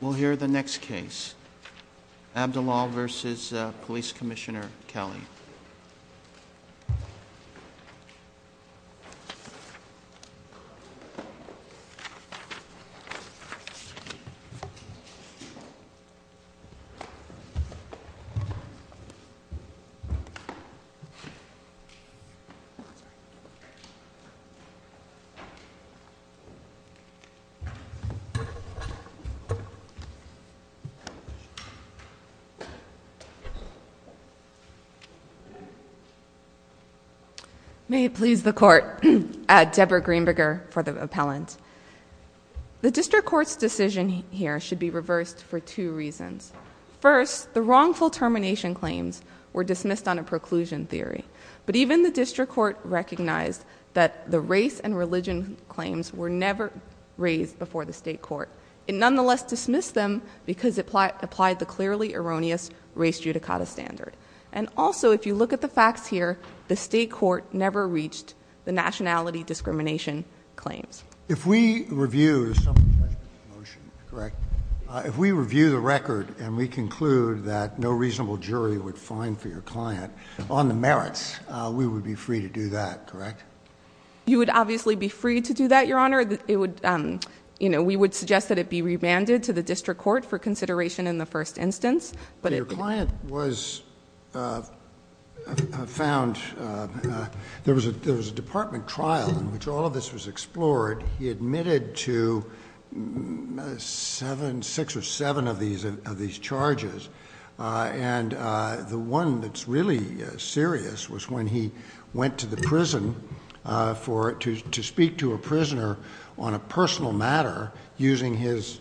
We'll hear the next case, Abdelal v. Police Commissioner Kelly. May it please the Court, Deborah Greenberger for the appellant. The District Court's decision here should be reversed for two reasons. First, the wrongful termination claims were dismissed on a preclusion theory, but even the District Court recognized that the race and religion claims were never raised before the State Court. It nonetheless dismissed them because it applied the clearly erroneous race judicata standard. And also, if you look at the facts here, the State Court never reached the nationality discrimination claims. If we review the record and we conclude that no reasonable jury would find for your client on the merits, we would be free to do that, correct? You would obviously be free to do that, Your Honor. It would, you know, we would suggest that it be remanded to the District Court for consideration in the first instance. But it— Your client was found—there was a department trial in which all of this was explored. He admitted to seven, six or seven of these charges. And the one that's really serious was when he went to the prison for—to speak to a prisoner on a personal matter using his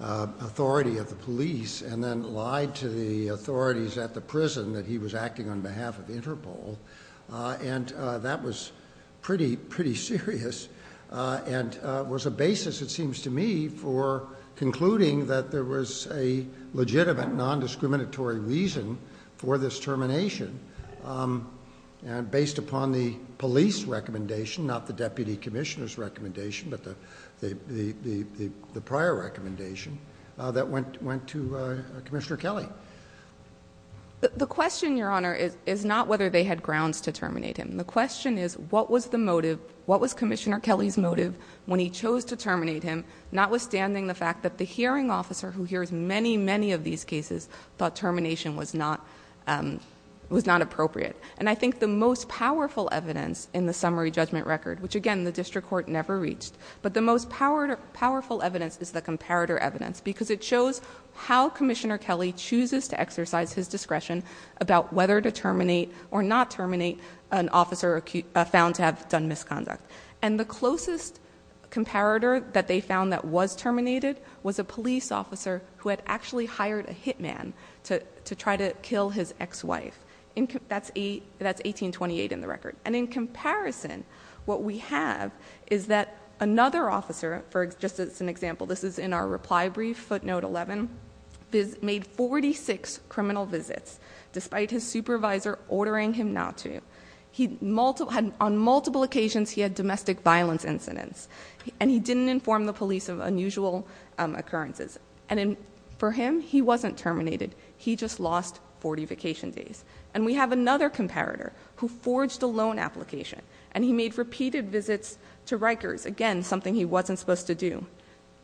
authority of the police and then lied to the authorities at the prison that he was acting on behalf of Interpol. And that was pretty, pretty serious and was a basis, it seems to me, for concluding that there was a legitimate nondiscriminatory reason for this termination based upon the police recommendation, not the Deputy Commissioner's recommendation, but the prior recommendation that went to Commissioner Kelly. The question, Your Honor, is not whether they had grounds to terminate him. The question is what was the motive, what was Commissioner Kelly's motive when he chose to terminate him, notwithstanding the fact that the hearing officer who hears many, many of these cases thought termination was not—was not appropriate. And I think the most powerful evidence in the summary judgment record, which, again, the District Court never reached, but the most powerful evidence is the comparator evidence because it shows how Commissioner Kelly chooses to exercise his discretion about whether to terminate or not terminate an officer found to have done misconduct. And the closest comparator that they found that was terminated was a police officer who had actually hired a hitman to try to kill his ex-wife. That's 1828 in the record. And in comparison, what we have is that another officer, for just as an example, this is in our reply brief, footnote 11, made 46 criminal visits despite his supervisor ordering him not to. He had—on multiple occasions he had domestic violence incidents, and he didn't inform the police of unusual occurrences. And for him, he wasn't terminated. He just lost 40 vacation days. And we have another comparator who forged a loan application, and he made repeated visits to Rikers, again, something he wasn't supposed to do.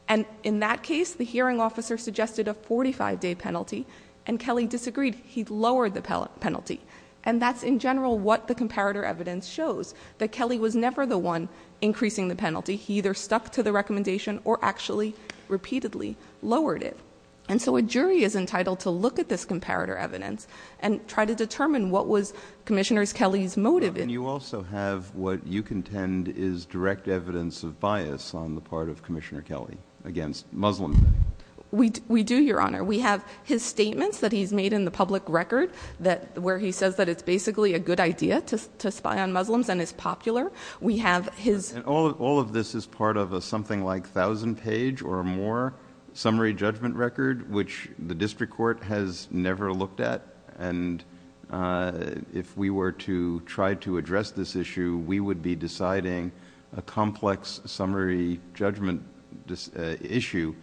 And in that case, the hearing officer suggested a 45-day penalty, and Kelly disagreed. He lowered the penalty. And that's, in general, what the comparator evidence shows, that Kelly was never the one increasing the penalty. He either stuck to the recommendation or actually repeatedly lowered it. And so a jury is entitled to look at this comparator evidence and try to determine what was Commissioners Kelly's motive in— And you also have what you contend is direct evidence of bias on the part of Commissioner Kelly against Muslim men. We do, Your Honor. We have his statements that he's made in the public record where he says that it's basically a good idea to spy on Muslims and is popular. We have his— And all of this is part of a something like 1,000-page or more summary judgment record, which the district court has never looked at. And if we were to try to address this issue, we would be deciding a complex summary judgment issue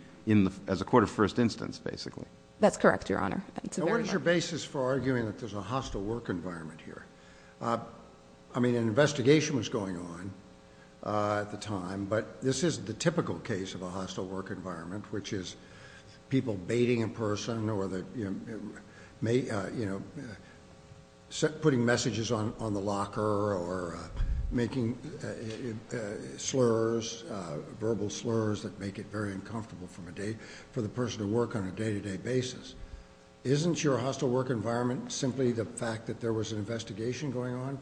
as a court of first instance, basically. That's correct, Your Honor. What is your basis for arguing that there's a hostile work environment here? I mean, an investigation was going on at the time, but this isn't the typical case of a hostile work environment, which is people baiting a person or putting messages on the that make it very uncomfortable for the person to work on a day-to-day basis. Isn't your hostile work environment simply the fact that there was an investigation going on?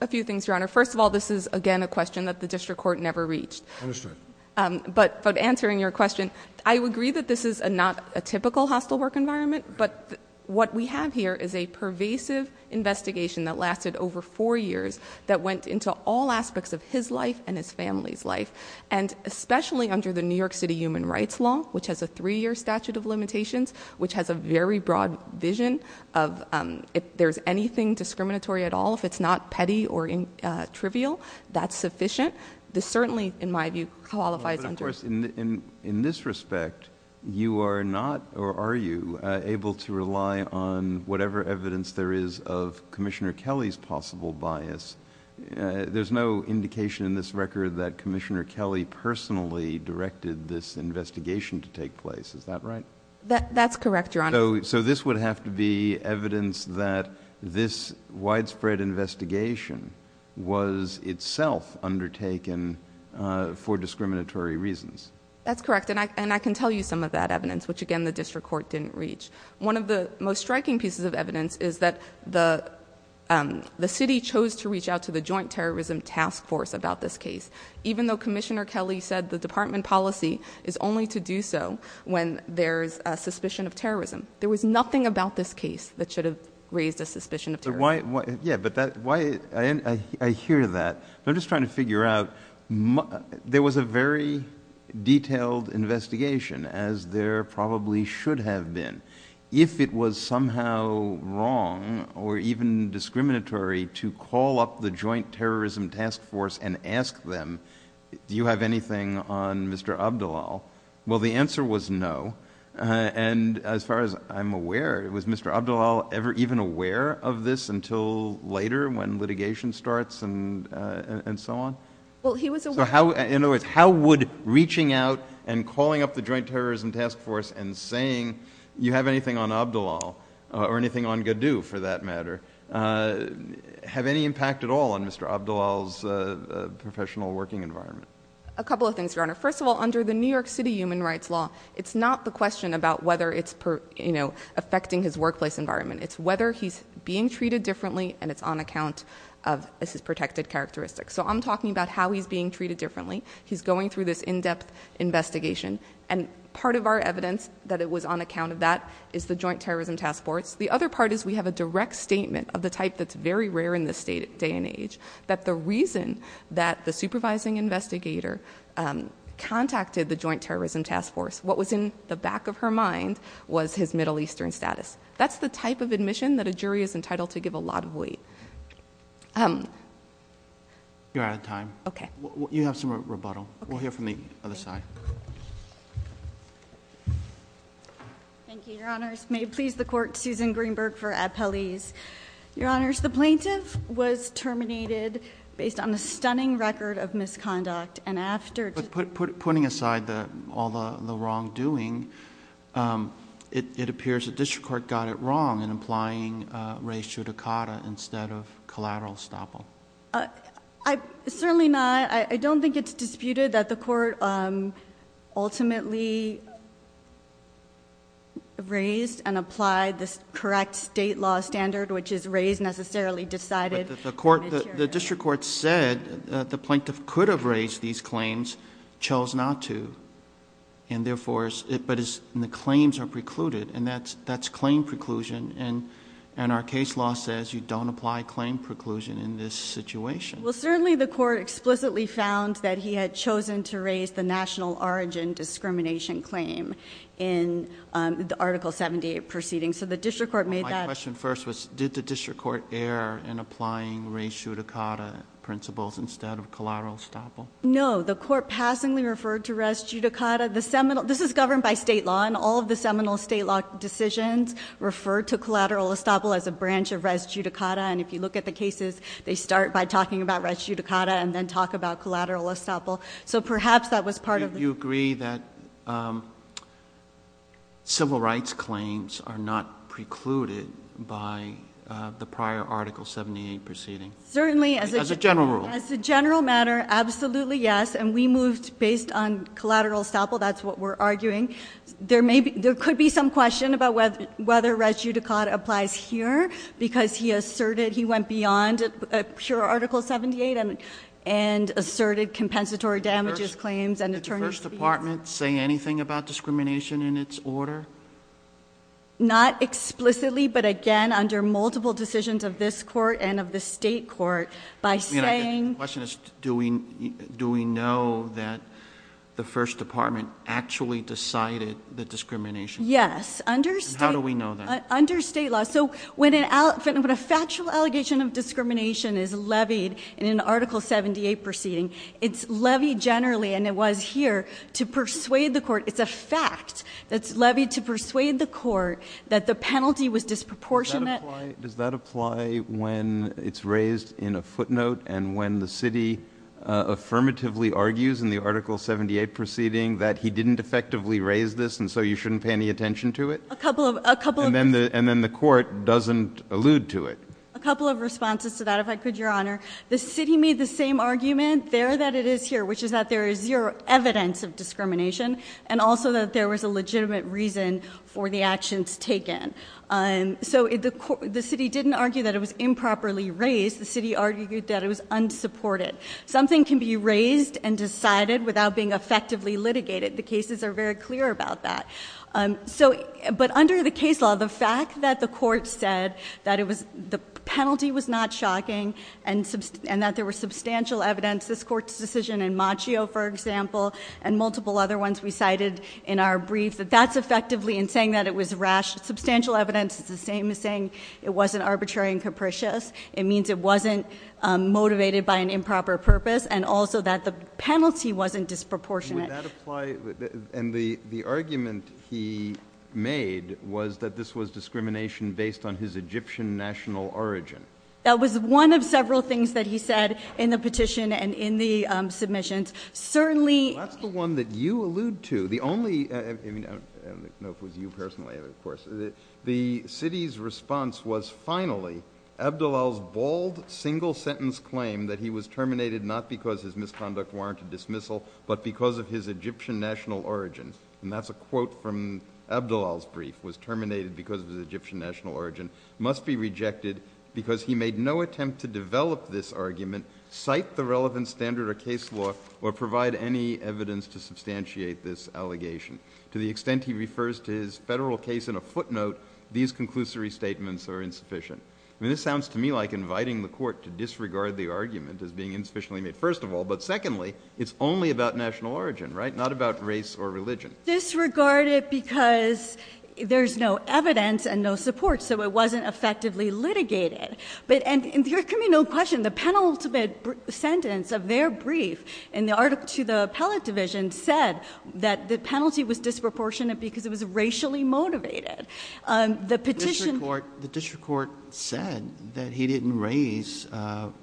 A few things, Your Honor. First of all, this is, again, a question that the district court never reached. Understood. But answering your question, I would agree that this is not a typical hostile work environment, but what we have here is a pervasive investigation that lasted over four years that went into all aspects of his life and his family's life. And especially under the New York City Human Rights Law, which has a three-year statute of limitations, which has a very broad vision of if there's anything discriminatory at all, if it's not petty or trivial, that's sufficient. This certainly, in my view, qualifies under- But of course, in this respect, you are not, or are you, able to rely on whatever evidence there is of Commissioner Kelly's possible bias? There's no indication in this record that Commissioner Kelly personally directed this investigation to take place, is that right? That's correct, Your Honor. So this would have to be evidence that this widespread investigation was itself undertaken for discriminatory reasons? That's correct. And I can tell you some of that evidence, which, again, the district court didn't reach. One of the most striking pieces of evidence is that the city chose to reach out to the Joint Terrorism Task Force about this case, even though Commissioner Kelly said the department policy is only to do so when there's a suspicion of terrorism. There was nothing about this case that should have raised a suspicion of terrorism. Yeah, but I hear that, but I'm just trying to figure out, there was a very detailed investigation, as there probably should have been. If it was somehow wrong, or even discriminatory, to call up the Joint Terrorism Task Force and ask them, do you have anything on Mr. Abdullah, well, the answer was no. And as far as I'm aware, was Mr. Abdullah ever even aware of this until later when litigation starts and so on? Well, he was aware. So in other words, how would reaching out and calling up the Joint Terrorism Task Force and saying, you have anything on Abdullah, or anything on Gaddou, for that matter, have any impact at all on Mr. Abdullah's professional working environment? A couple of things, Your Honor. First of all, under the New York City human rights law, it's not the question about whether it's affecting his workplace environment. It's whether he's being treated differently, and it's on account of his protected characteristics. So I'm talking about how he's being treated differently. He's going through this in-depth investigation. And part of our evidence that it was on account of that is the Joint Terrorism Task Force. The other part is we have a direct statement of the type that's very rare in this day and age, that the reason that the supervising investigator contacted the Joint Terrorism Task Force, what was in the back of her mind was his Middle Eastern status. That's the type of admission that a jury is entitled to give a lot of weight. You're out of time. Okay. You have some rebuttal. We'll hear from the other side. Thank you, Your Honors. May it please the court, Susan Greenberg for Appellees. Your Honors, the plaintiff was terminated based on a stunning record of misconduct. And after- Putting aside all the wrongdoing, it appears the district court got it wrong in applying re judicata instead of collateral estoppel. Certainly not. I don't think it's disputed that the court ultimately raised and applied this correct state law standard, which is raised, necessarily decided- The district court said that the plaintiff could have raised these claims, chose not to. And therefore, but the claims are precluded, and that's claim preclusion. And our case law says you don't apply claim preclusion in this situation. Well, certainly the court explicitly found that he had chosen to raise the national origin discrimination claim in the Article 78 proceedings. So the district court made that- My question first was, did the district court err in applying re judicata principles instead of collateral estoppel? No, the court passingly referred to res judicata. This is governed by state law, and all of the seminal state law decisions refer to collateral estoppel as a branch of res judicata. And if you look at the cases, they start by talking about res judicata and then talk about collateral estoppel. So perhaps that was part of- Do you agree that civil rights claims are not precluded by the prior Article 78 proceeding? Certainly, as a general rule. As a general matter, absolutely yes, and we moved based on collateral estoppel, that's what we're arguing. There could be some question about whether res judicata applies here, because he asserted he went beyond pure Article 78 and asserted compensatory damages claims and attorney's fees. Did the first department say anything about discrimination in its order? Not explicitly, but again, under multiple decisions of this court and of the state court, by saying- The question is, do we know that the first department actually decided the discrimination? Yes, under state- How do we know that? Under state law, so when a factual allegation of discrimination is levied in an Article 78 proceeding, it's levied generally, and it was here, to persuade the court. It's a fact that's levied to persuade the court that the penalty was disproportionate. Does that apply when it's raised in a footnote and when the city affirmatively argues in the Article 78 proceeding that he didn't effectively raise this and so you shouldn't pay any attention to it? A couple of- And then the court doesn't allude to it. A couple of responses to that, if I could, your honor. The city made the same argument there that it is here, which is that there is zero evidence of discrimination, and also that there was a legitimate reason for the actions taken. So the city didn't argue that it was improperly raised, the city argued that it was unsupported. Something can be raised and decided without being effectively litigated. The cases are very clear about that. But under the case law, the fact that the court said that the penalty was not shocking, and that there was substantial evidence, this court's decision in Machio, for example, and multiple other ones we cited in our brief, that that's effectively in saying that it was rash. Substantial evidence is the same as saying it wasn't arbitrary and capricious. It means it wasn't motivated by an improper purpose, and also that the penalty wasn't disproportionate. Did that apply, and the argument he made was that this was discrimination based on his Egyptian national origin. That was one of several things that he said in the petition and in the submissions. Certainly- That's the one that you allude to. The only, I don't know if it was you personally, of course. The city's response was finally, Abdullal's bold single sentence claim that he was terminated not because his misconduct warranted dismissal, but because of his Egyptian national origin. And that's a quote from Abdullal's brief, was terminated because of his Egyptian national origin, must be rejected because he made no attempt to develop this argument, cite the relevant standard or case law, or provide any evidence to substantiate this allegation. To the extent he refers to his federal case in a footnote, these conclusory statements are insufficient. I mean, this sounds to me like inviting the court to disregard the argument as being insufficiently made, first of all. But secondly, it's only about national origin, right? Not about race or religion. Disregard it because there's no evidence and no support, so it wasn't effectively litigated. But, and there can be no question, the penultimate sentence of their brief to the appellate division said that the penalty was disproportionate because it was racially motivated. The petition-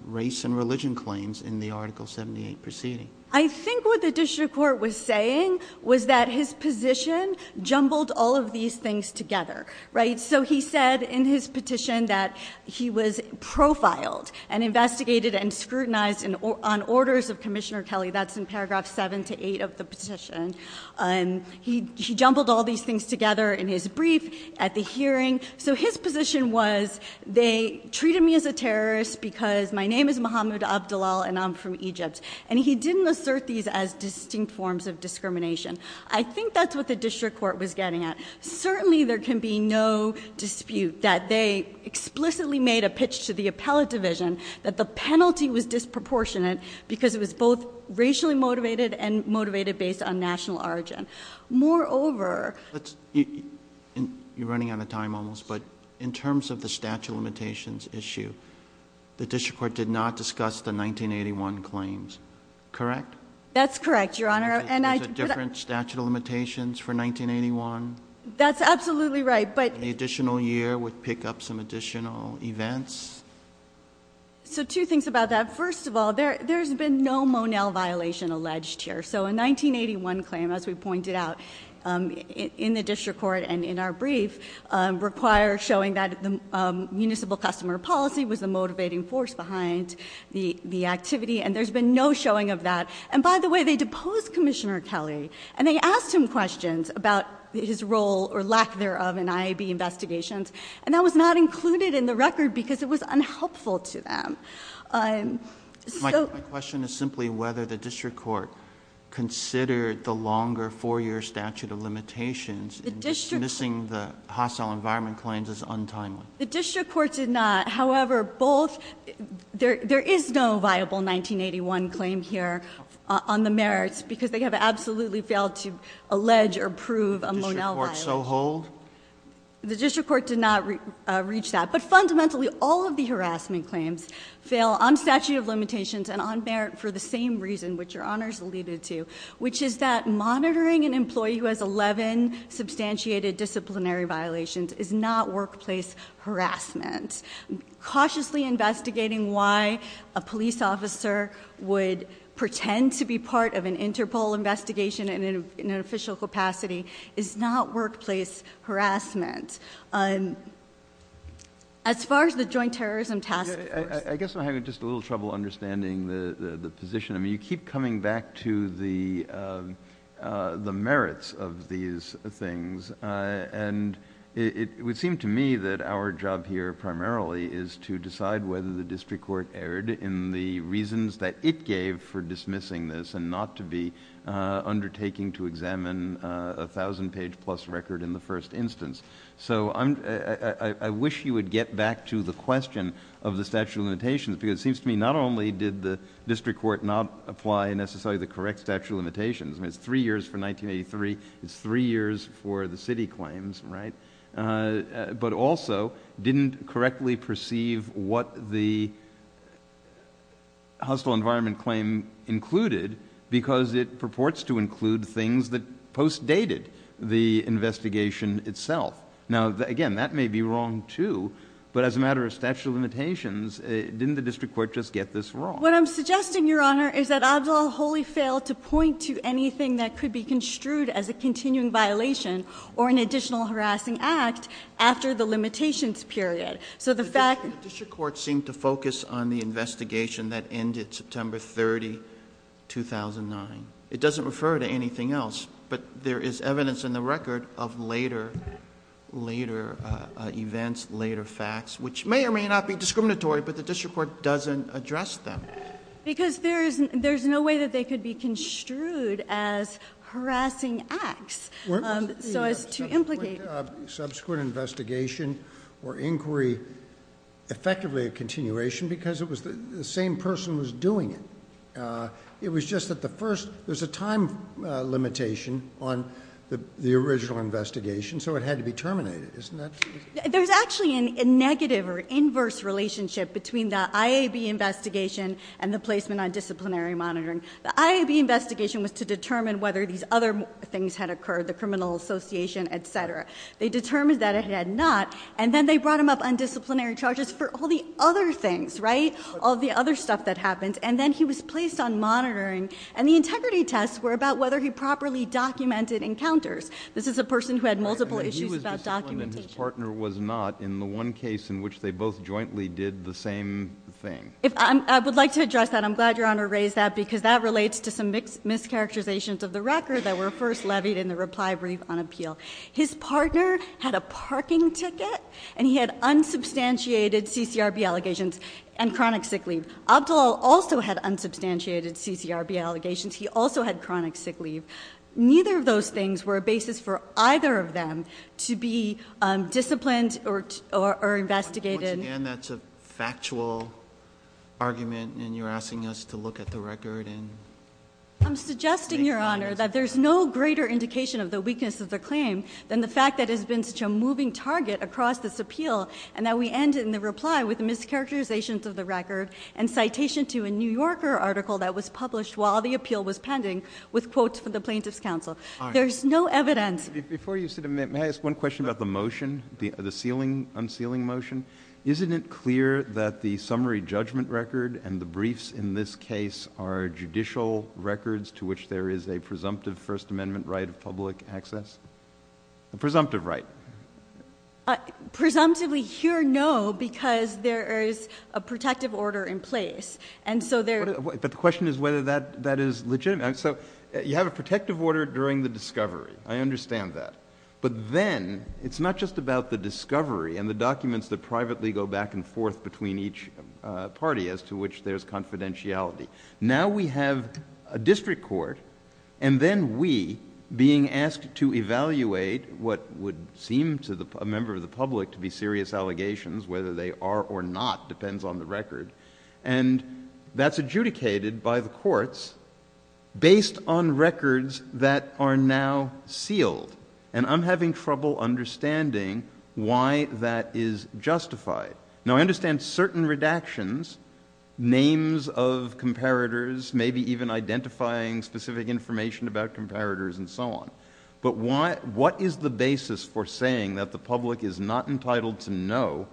Race and religion claims in the article 78 proceeding. I think what the district court was saying was that his position jumbled all of these things together, right? So he said in his petition that he was profiled and investigated and scrutinized on orders of Commissioner Kelly, that's in paragraph seven to eight of the petition. And he jumbled all these things together in his brief at the hearing. So his position was, they treated me as a terrorist because my name is Mohammed Abdelal and I'm from Egypt. And he didn't assert these as distinct forms of discrimination. I think that's what the district court was getting at. Certainly there can be no dispute that they explicitly made a pitch to the appellate division that the penalty was disproportionate because it was both racially motivated and motivated based on national origin. Moreover- You're running out of time almost, but in terms of the statute of limitations issue, the district court did not discuss the 1981 claims, correct? That's correct, your honor. And I- There's a different statute of limitations for 1981? That's absolutely right, but- The additional year would pick up some additional events? So two things about that. First of all, there's been no Monel violation alleged here. So a 1981 claim, as we pointed out, in the district court and in our brief, require showing that the municipal customer policy was the motivating force behind the activity. And there's been no showing of that. And by the way, they deposed Commissioner Kelly. And they asked him questions about his role or lack thereof in IAB investigations. And that was not included in the record because it was unhelpful to them. So- My question is simply whether the district court considered the longer four year statute of limitations. The district- Dismissing the hostile environment claims is untimely. The district court did not, however, both, there is no viable 1981 claim here on the merits because they have absolutely failed to allege or prove a Monel violation. The district court so hold? The district court did not reach that. But fundamentally, all of the harassment claims fail on statute of limitations and on merit for the same reason which your honors alluded to. Which is that monitoring an employee who has 11 substantiated disciplinary violations is not workplace harassment. Cautiously investigating why a police officer would pretend to be part of an Interpol investigation in an official capacity is not workplace harassment. As far as the joint terrorism task force- I guess I'm having just a little trouble understanding the position. I mean, you keep coming back to the merits of these things. And it would seem to me that our job here primarily is to decide whether the district court erred in the reasons that it gave for dismissing this and not to be undertaking to examine a 1,000 page plus record in the first instance. So I wish you would get back to the question of the statute of limitations because it seems to me not only did the district court not apply necessarily the correct statute of limitations. I mean, it's three years for 1983, it's three years for the city claims, right? But also, didn't correctly perceive what the hostile environment claim included because it purports to include things that post dated the investigation itself. Now again, that may be wrong too, but as a matter of statute of limitations, didn't the district court just get this wrong? What I'm suggesting, your honor, is that Abdullah Holy failed to point to anything that could be construed as a continuing violation or an additional harassing act after the limitations period. So the fact- The district court seemed to focus on the investigation that ended September 30, 2009. It doesn't refer to anything else, but there is evidence in the record of later, later events, later facts, which may or may not be discriminatory, but the district court doesn't address them. Because there's no way that they could be construed as harassing acts, so as to implicate. Subsequent investigation or inquiry effectively a continuation because it was the same person was doing it. It was just that the first, there's a time limitation on the original investigation, so it had to be terminated, isn't that? There's actually a negative or inverse relationship between the IAB investigation and the placement on disciplinary monitoring. The IAB investigation was to determine whether these other things had occurred, the criminal association, etc. They determined that it had not, and then they brought him up on disciplinary charges for all the other things, right? All the other stuff that happened, and then he was placed on monitoring, and the integrity tests were about whether he properly documented encounters. This is a person who had multiple issues about documentation. He was disciplined and his partner was not in the one case in which they both jointly did the same thing. I would like to address that, I'm glad your honor raised that, because that relates to some mischaracterizations of the record that were first levied in the reply brief on appeal. His partner had a parking ticket, and he had unsubstantiated CCRB allegations and chronic sick leave. Abdullah also had unsubstantiated CCRB allegations, he also had chronic sick leave. Neither of those things were a basis for either of them to be disciplined or investigated. Once again, that's a factual argument, and you're asking us to look at the record and- I'm suggesting, your honor, that there's no greater indication of the weakness of the claim than the fact that it's been such a moving target across this appeal. And that we end in the reply with mischaracterizations of the record and citation to a New Yorker article that was published while the appeal was pending with quotes from the plaintiff's counsel. There's no evidence. Before you sit a minute, may I ask one question about the motion, the unsealing motion? Isn't it clear that the summary judgment record and the briefs in this case are judicial records to which there is a presumptive First Amendment right of public access? A presumptive right. Presumptively here, no, because there is a protective order in place. And so there- But the question is whether that is legitimate. So you have a protective order during the discovery. I understand that. But then, it's not just about the discovery and the documents that privately go back and forth between each party as to which there's confidentiality. Now we have a district court, and then we, being asked to evaluate what would seem to a member of the public to be serious allegations, whether they are or not depends on the record. And that's adjudicated by the courts based on records that are now sealed. And I'm having trouble understanding why that is justified. Now I understand certain redactions, names of comparators, maybe even identifying specific information about comparators and so on. But why, what is the basis for saying that the public is not entitled to know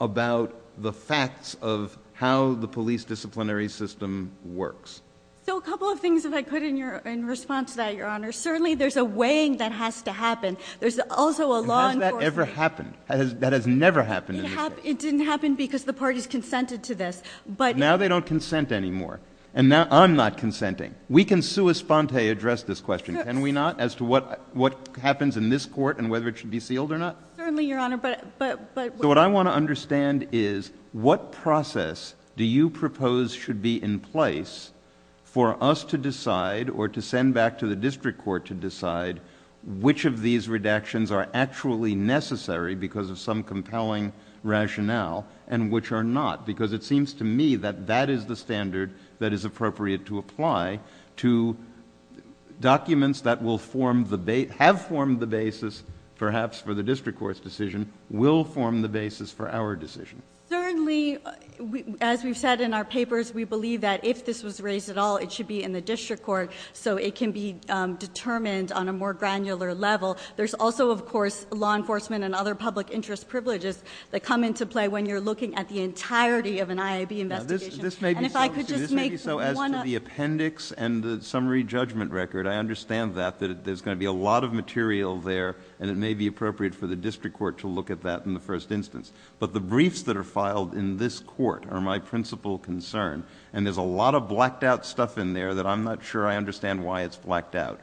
about the facts of how the police disciplinary system works? So a couple of things if I could in response to that, your honor. Certainly there's a weighing that has to happen. There's also a law enforcement- And has that ever happened? That has never happened in this case? It didn't happen because the parties consented to this, but- Now they don't consent anymore. And now I'm not consenting. We can sui sponte address this question, can we not, as to what happens in this court and whether it should be sealed or not? Certainly, your honor, but- So what I want to understand is what process do you propose should be in place for us to decide or to send back to the district court to decide which of these redactions are actually necessary because of some compelling rationale and which are not. Because it seems to me that that is the standard that is appropriate to apply to documents that have formed the basis, perhaps for the district court's decision, will form the basis for our decision. Certainly, as we've said in our papers, we believe that if this was raised at all, it should be in the district court so it can be determined on a more granular level. There's also, of course, law enforcement and other public interest privileges that come into play when you're looking at the entirety of an IAB investigation. And if I could just make one- This may be so as to the appendix and the summary judgment record. I understand that, that there's going to be a lot of material there and it may be appropriate for the district court to look at that in the first instance. But the briefs that are filed in this court are my principal concern. And there's a lot of blacked out stuff in there that I'm not sure I understand why it's blacked out.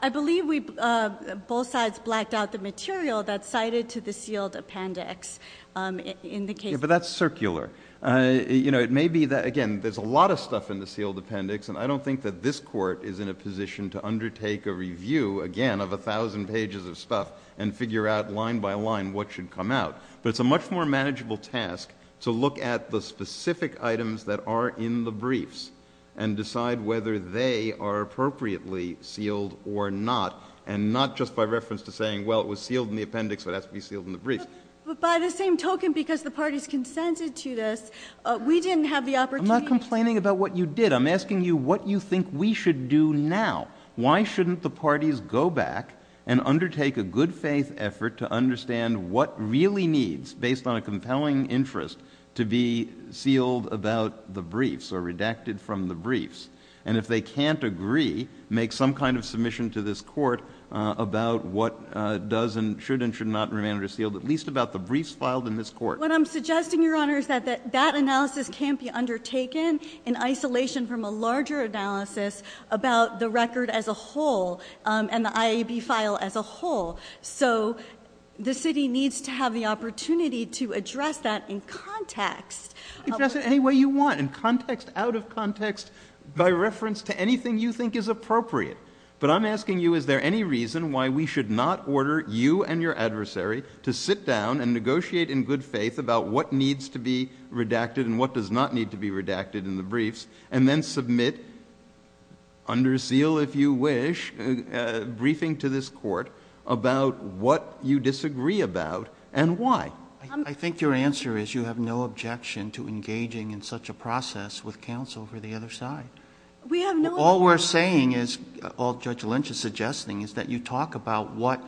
I believe we both sides blacked out the material that's cited to the sealed appendix in the case. Yeah, but that's circular. It may be that, again, there's a lot of stuff in the sealed appendix. And I don't think that this court is in a position to undertake a review, again, of 1,000 pages of stuff and figure out line by line what should come out. But it's a much more manageable task to look at the specific items that are in the briefs. And decide whether they are appropriately sealed or not. And not just by reference to saying, well, it was sealed in the appendix, so it has to be sealed in the briefs. But by the same token, because the parties consented to this, we didn't have the opportunity- I'm not complaining about what you did. I'm asking you what you think we should do now. Why shouldn't the parties go back and undertake a good faith effort to understand what really needs, based on a compelling interest, to be sealed about the briefs or redacted from the briefs. And if they can't agree, make some kind of submission to this court about what does and should not remain unsealed, at least about the briefs filed in this court. What I'm suggesting, Your Honor, is that that analysis can't be undertaken in isolation from a larger analysis about the record as a whole and the IAB file as a whole. So the city needs to have the opportunity to address that in context. Address it any way you want, in context, out of context, by reference to anything you think is appropriate. But I'm asking you, is there any reason why we should not order you and your adversary to sit down and negotiate in good faith about what needs to be redacted and what does not need to be redacted in the briefs. And then submit, under seal if you wish, briefing to this court about what you disagree about and why. I think your answer is you have no objection to engaging in such a process with counsel for the other side. All we're saying is, all Judge Lynch is suggesting, is that you talk about what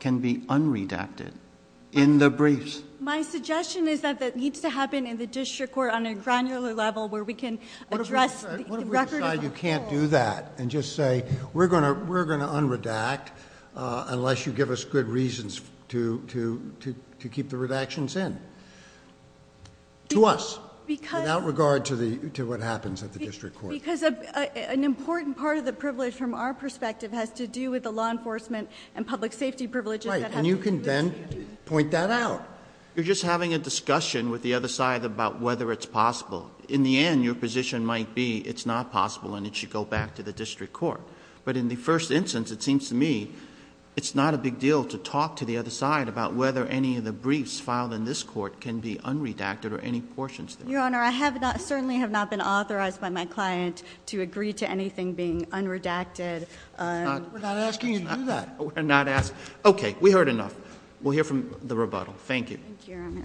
can be unredacted in the briefs. My suggestion is that that needs to happen in the district court on a granular level where we can address the record as a whole. What if we decide you can't do that and just say, we're going to unredact unless you give us good reasons to keep the redactions in? To us. Without regard to what happens at the district court. Because an important part of the privilege from our perspective has to do with the law enforcement and public safety privileges that have to do with- Right, and you can then point that out. You're just having a discussion with the other side about whether it's possible. In the end, your position might be it's not possible and it should go back to the district court. But in the first instance, it seems to me it's not a big deal to talk to the other side about whether any of the briefs filed in this court can be unredacted or any portions thereof. Your Honor, I have not, certainly have not been authorized by my client to agree to anything being unredacted. We're not asking you to do that. We're not asking. Okay, we heard enough. We'll hear from the rebuttal. Thank you. Thank you, Your Honor.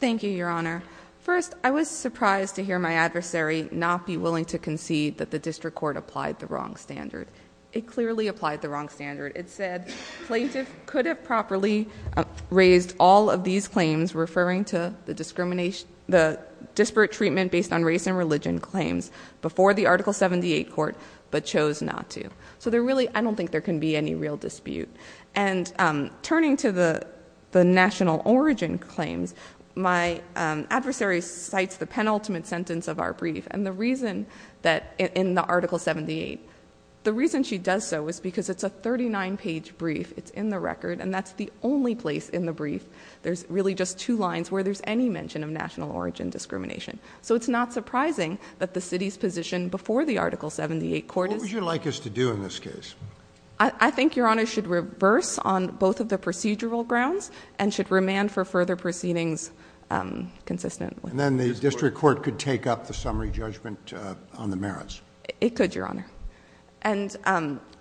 Thank you, Your Honor. First, I was surprised to hear my adversary not be willing to concede that the district court applied the wrong standard. It clearly applied the wrong standard. It said plaintiff could have properly raised all of these claims referring to the discrimination, the disparate treatment based on race and religion claims before the Article 78 court, but chose not to. So there really, I don't think there can be any real dispute. And turning to the national origin claims, my adversary cites the penultimate sentence of our brief and the reason that in the Article 78. The reason she does so is because it's a 39 page brief. It's in the record and that's the only place in the brief. There's really just two lines where there's any mention of national origin discrimination. So it's not surprising that the city's position before the Article 78 court is- What would you like us to do in this case? I think, Your Honor, should reverse on both of the procedural grounds and should remand for further proceedings consistently. And then the district court could take up the summary judgment on the merits. It could, Your Honor. And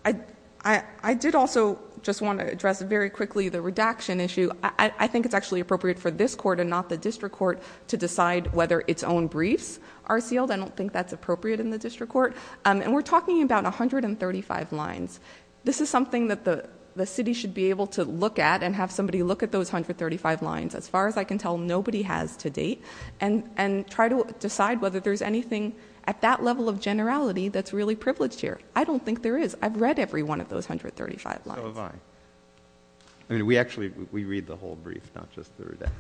I did also just want to address very quickly the redaction issue. I think it's actually appropriate for this court and not the district court to decide whether its own briefs are sealed. I don't think that's appropriate in the district court. And we're talking about 135 lines. This is something that the city should be able to look at and have somebody look at those 135 lines. As far as I can tell, nobody has to date. And try to decide whether there's anything at that level of generality that's really privileged here. I don't think there is. I've read every one of those 135 lines. So have I. I mean, we actually, we read the whole brief, not just the redacted.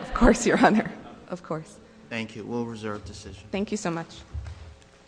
Of course, Your Honor. Of course. Thank you. We'll reserve decision. Thank you so much.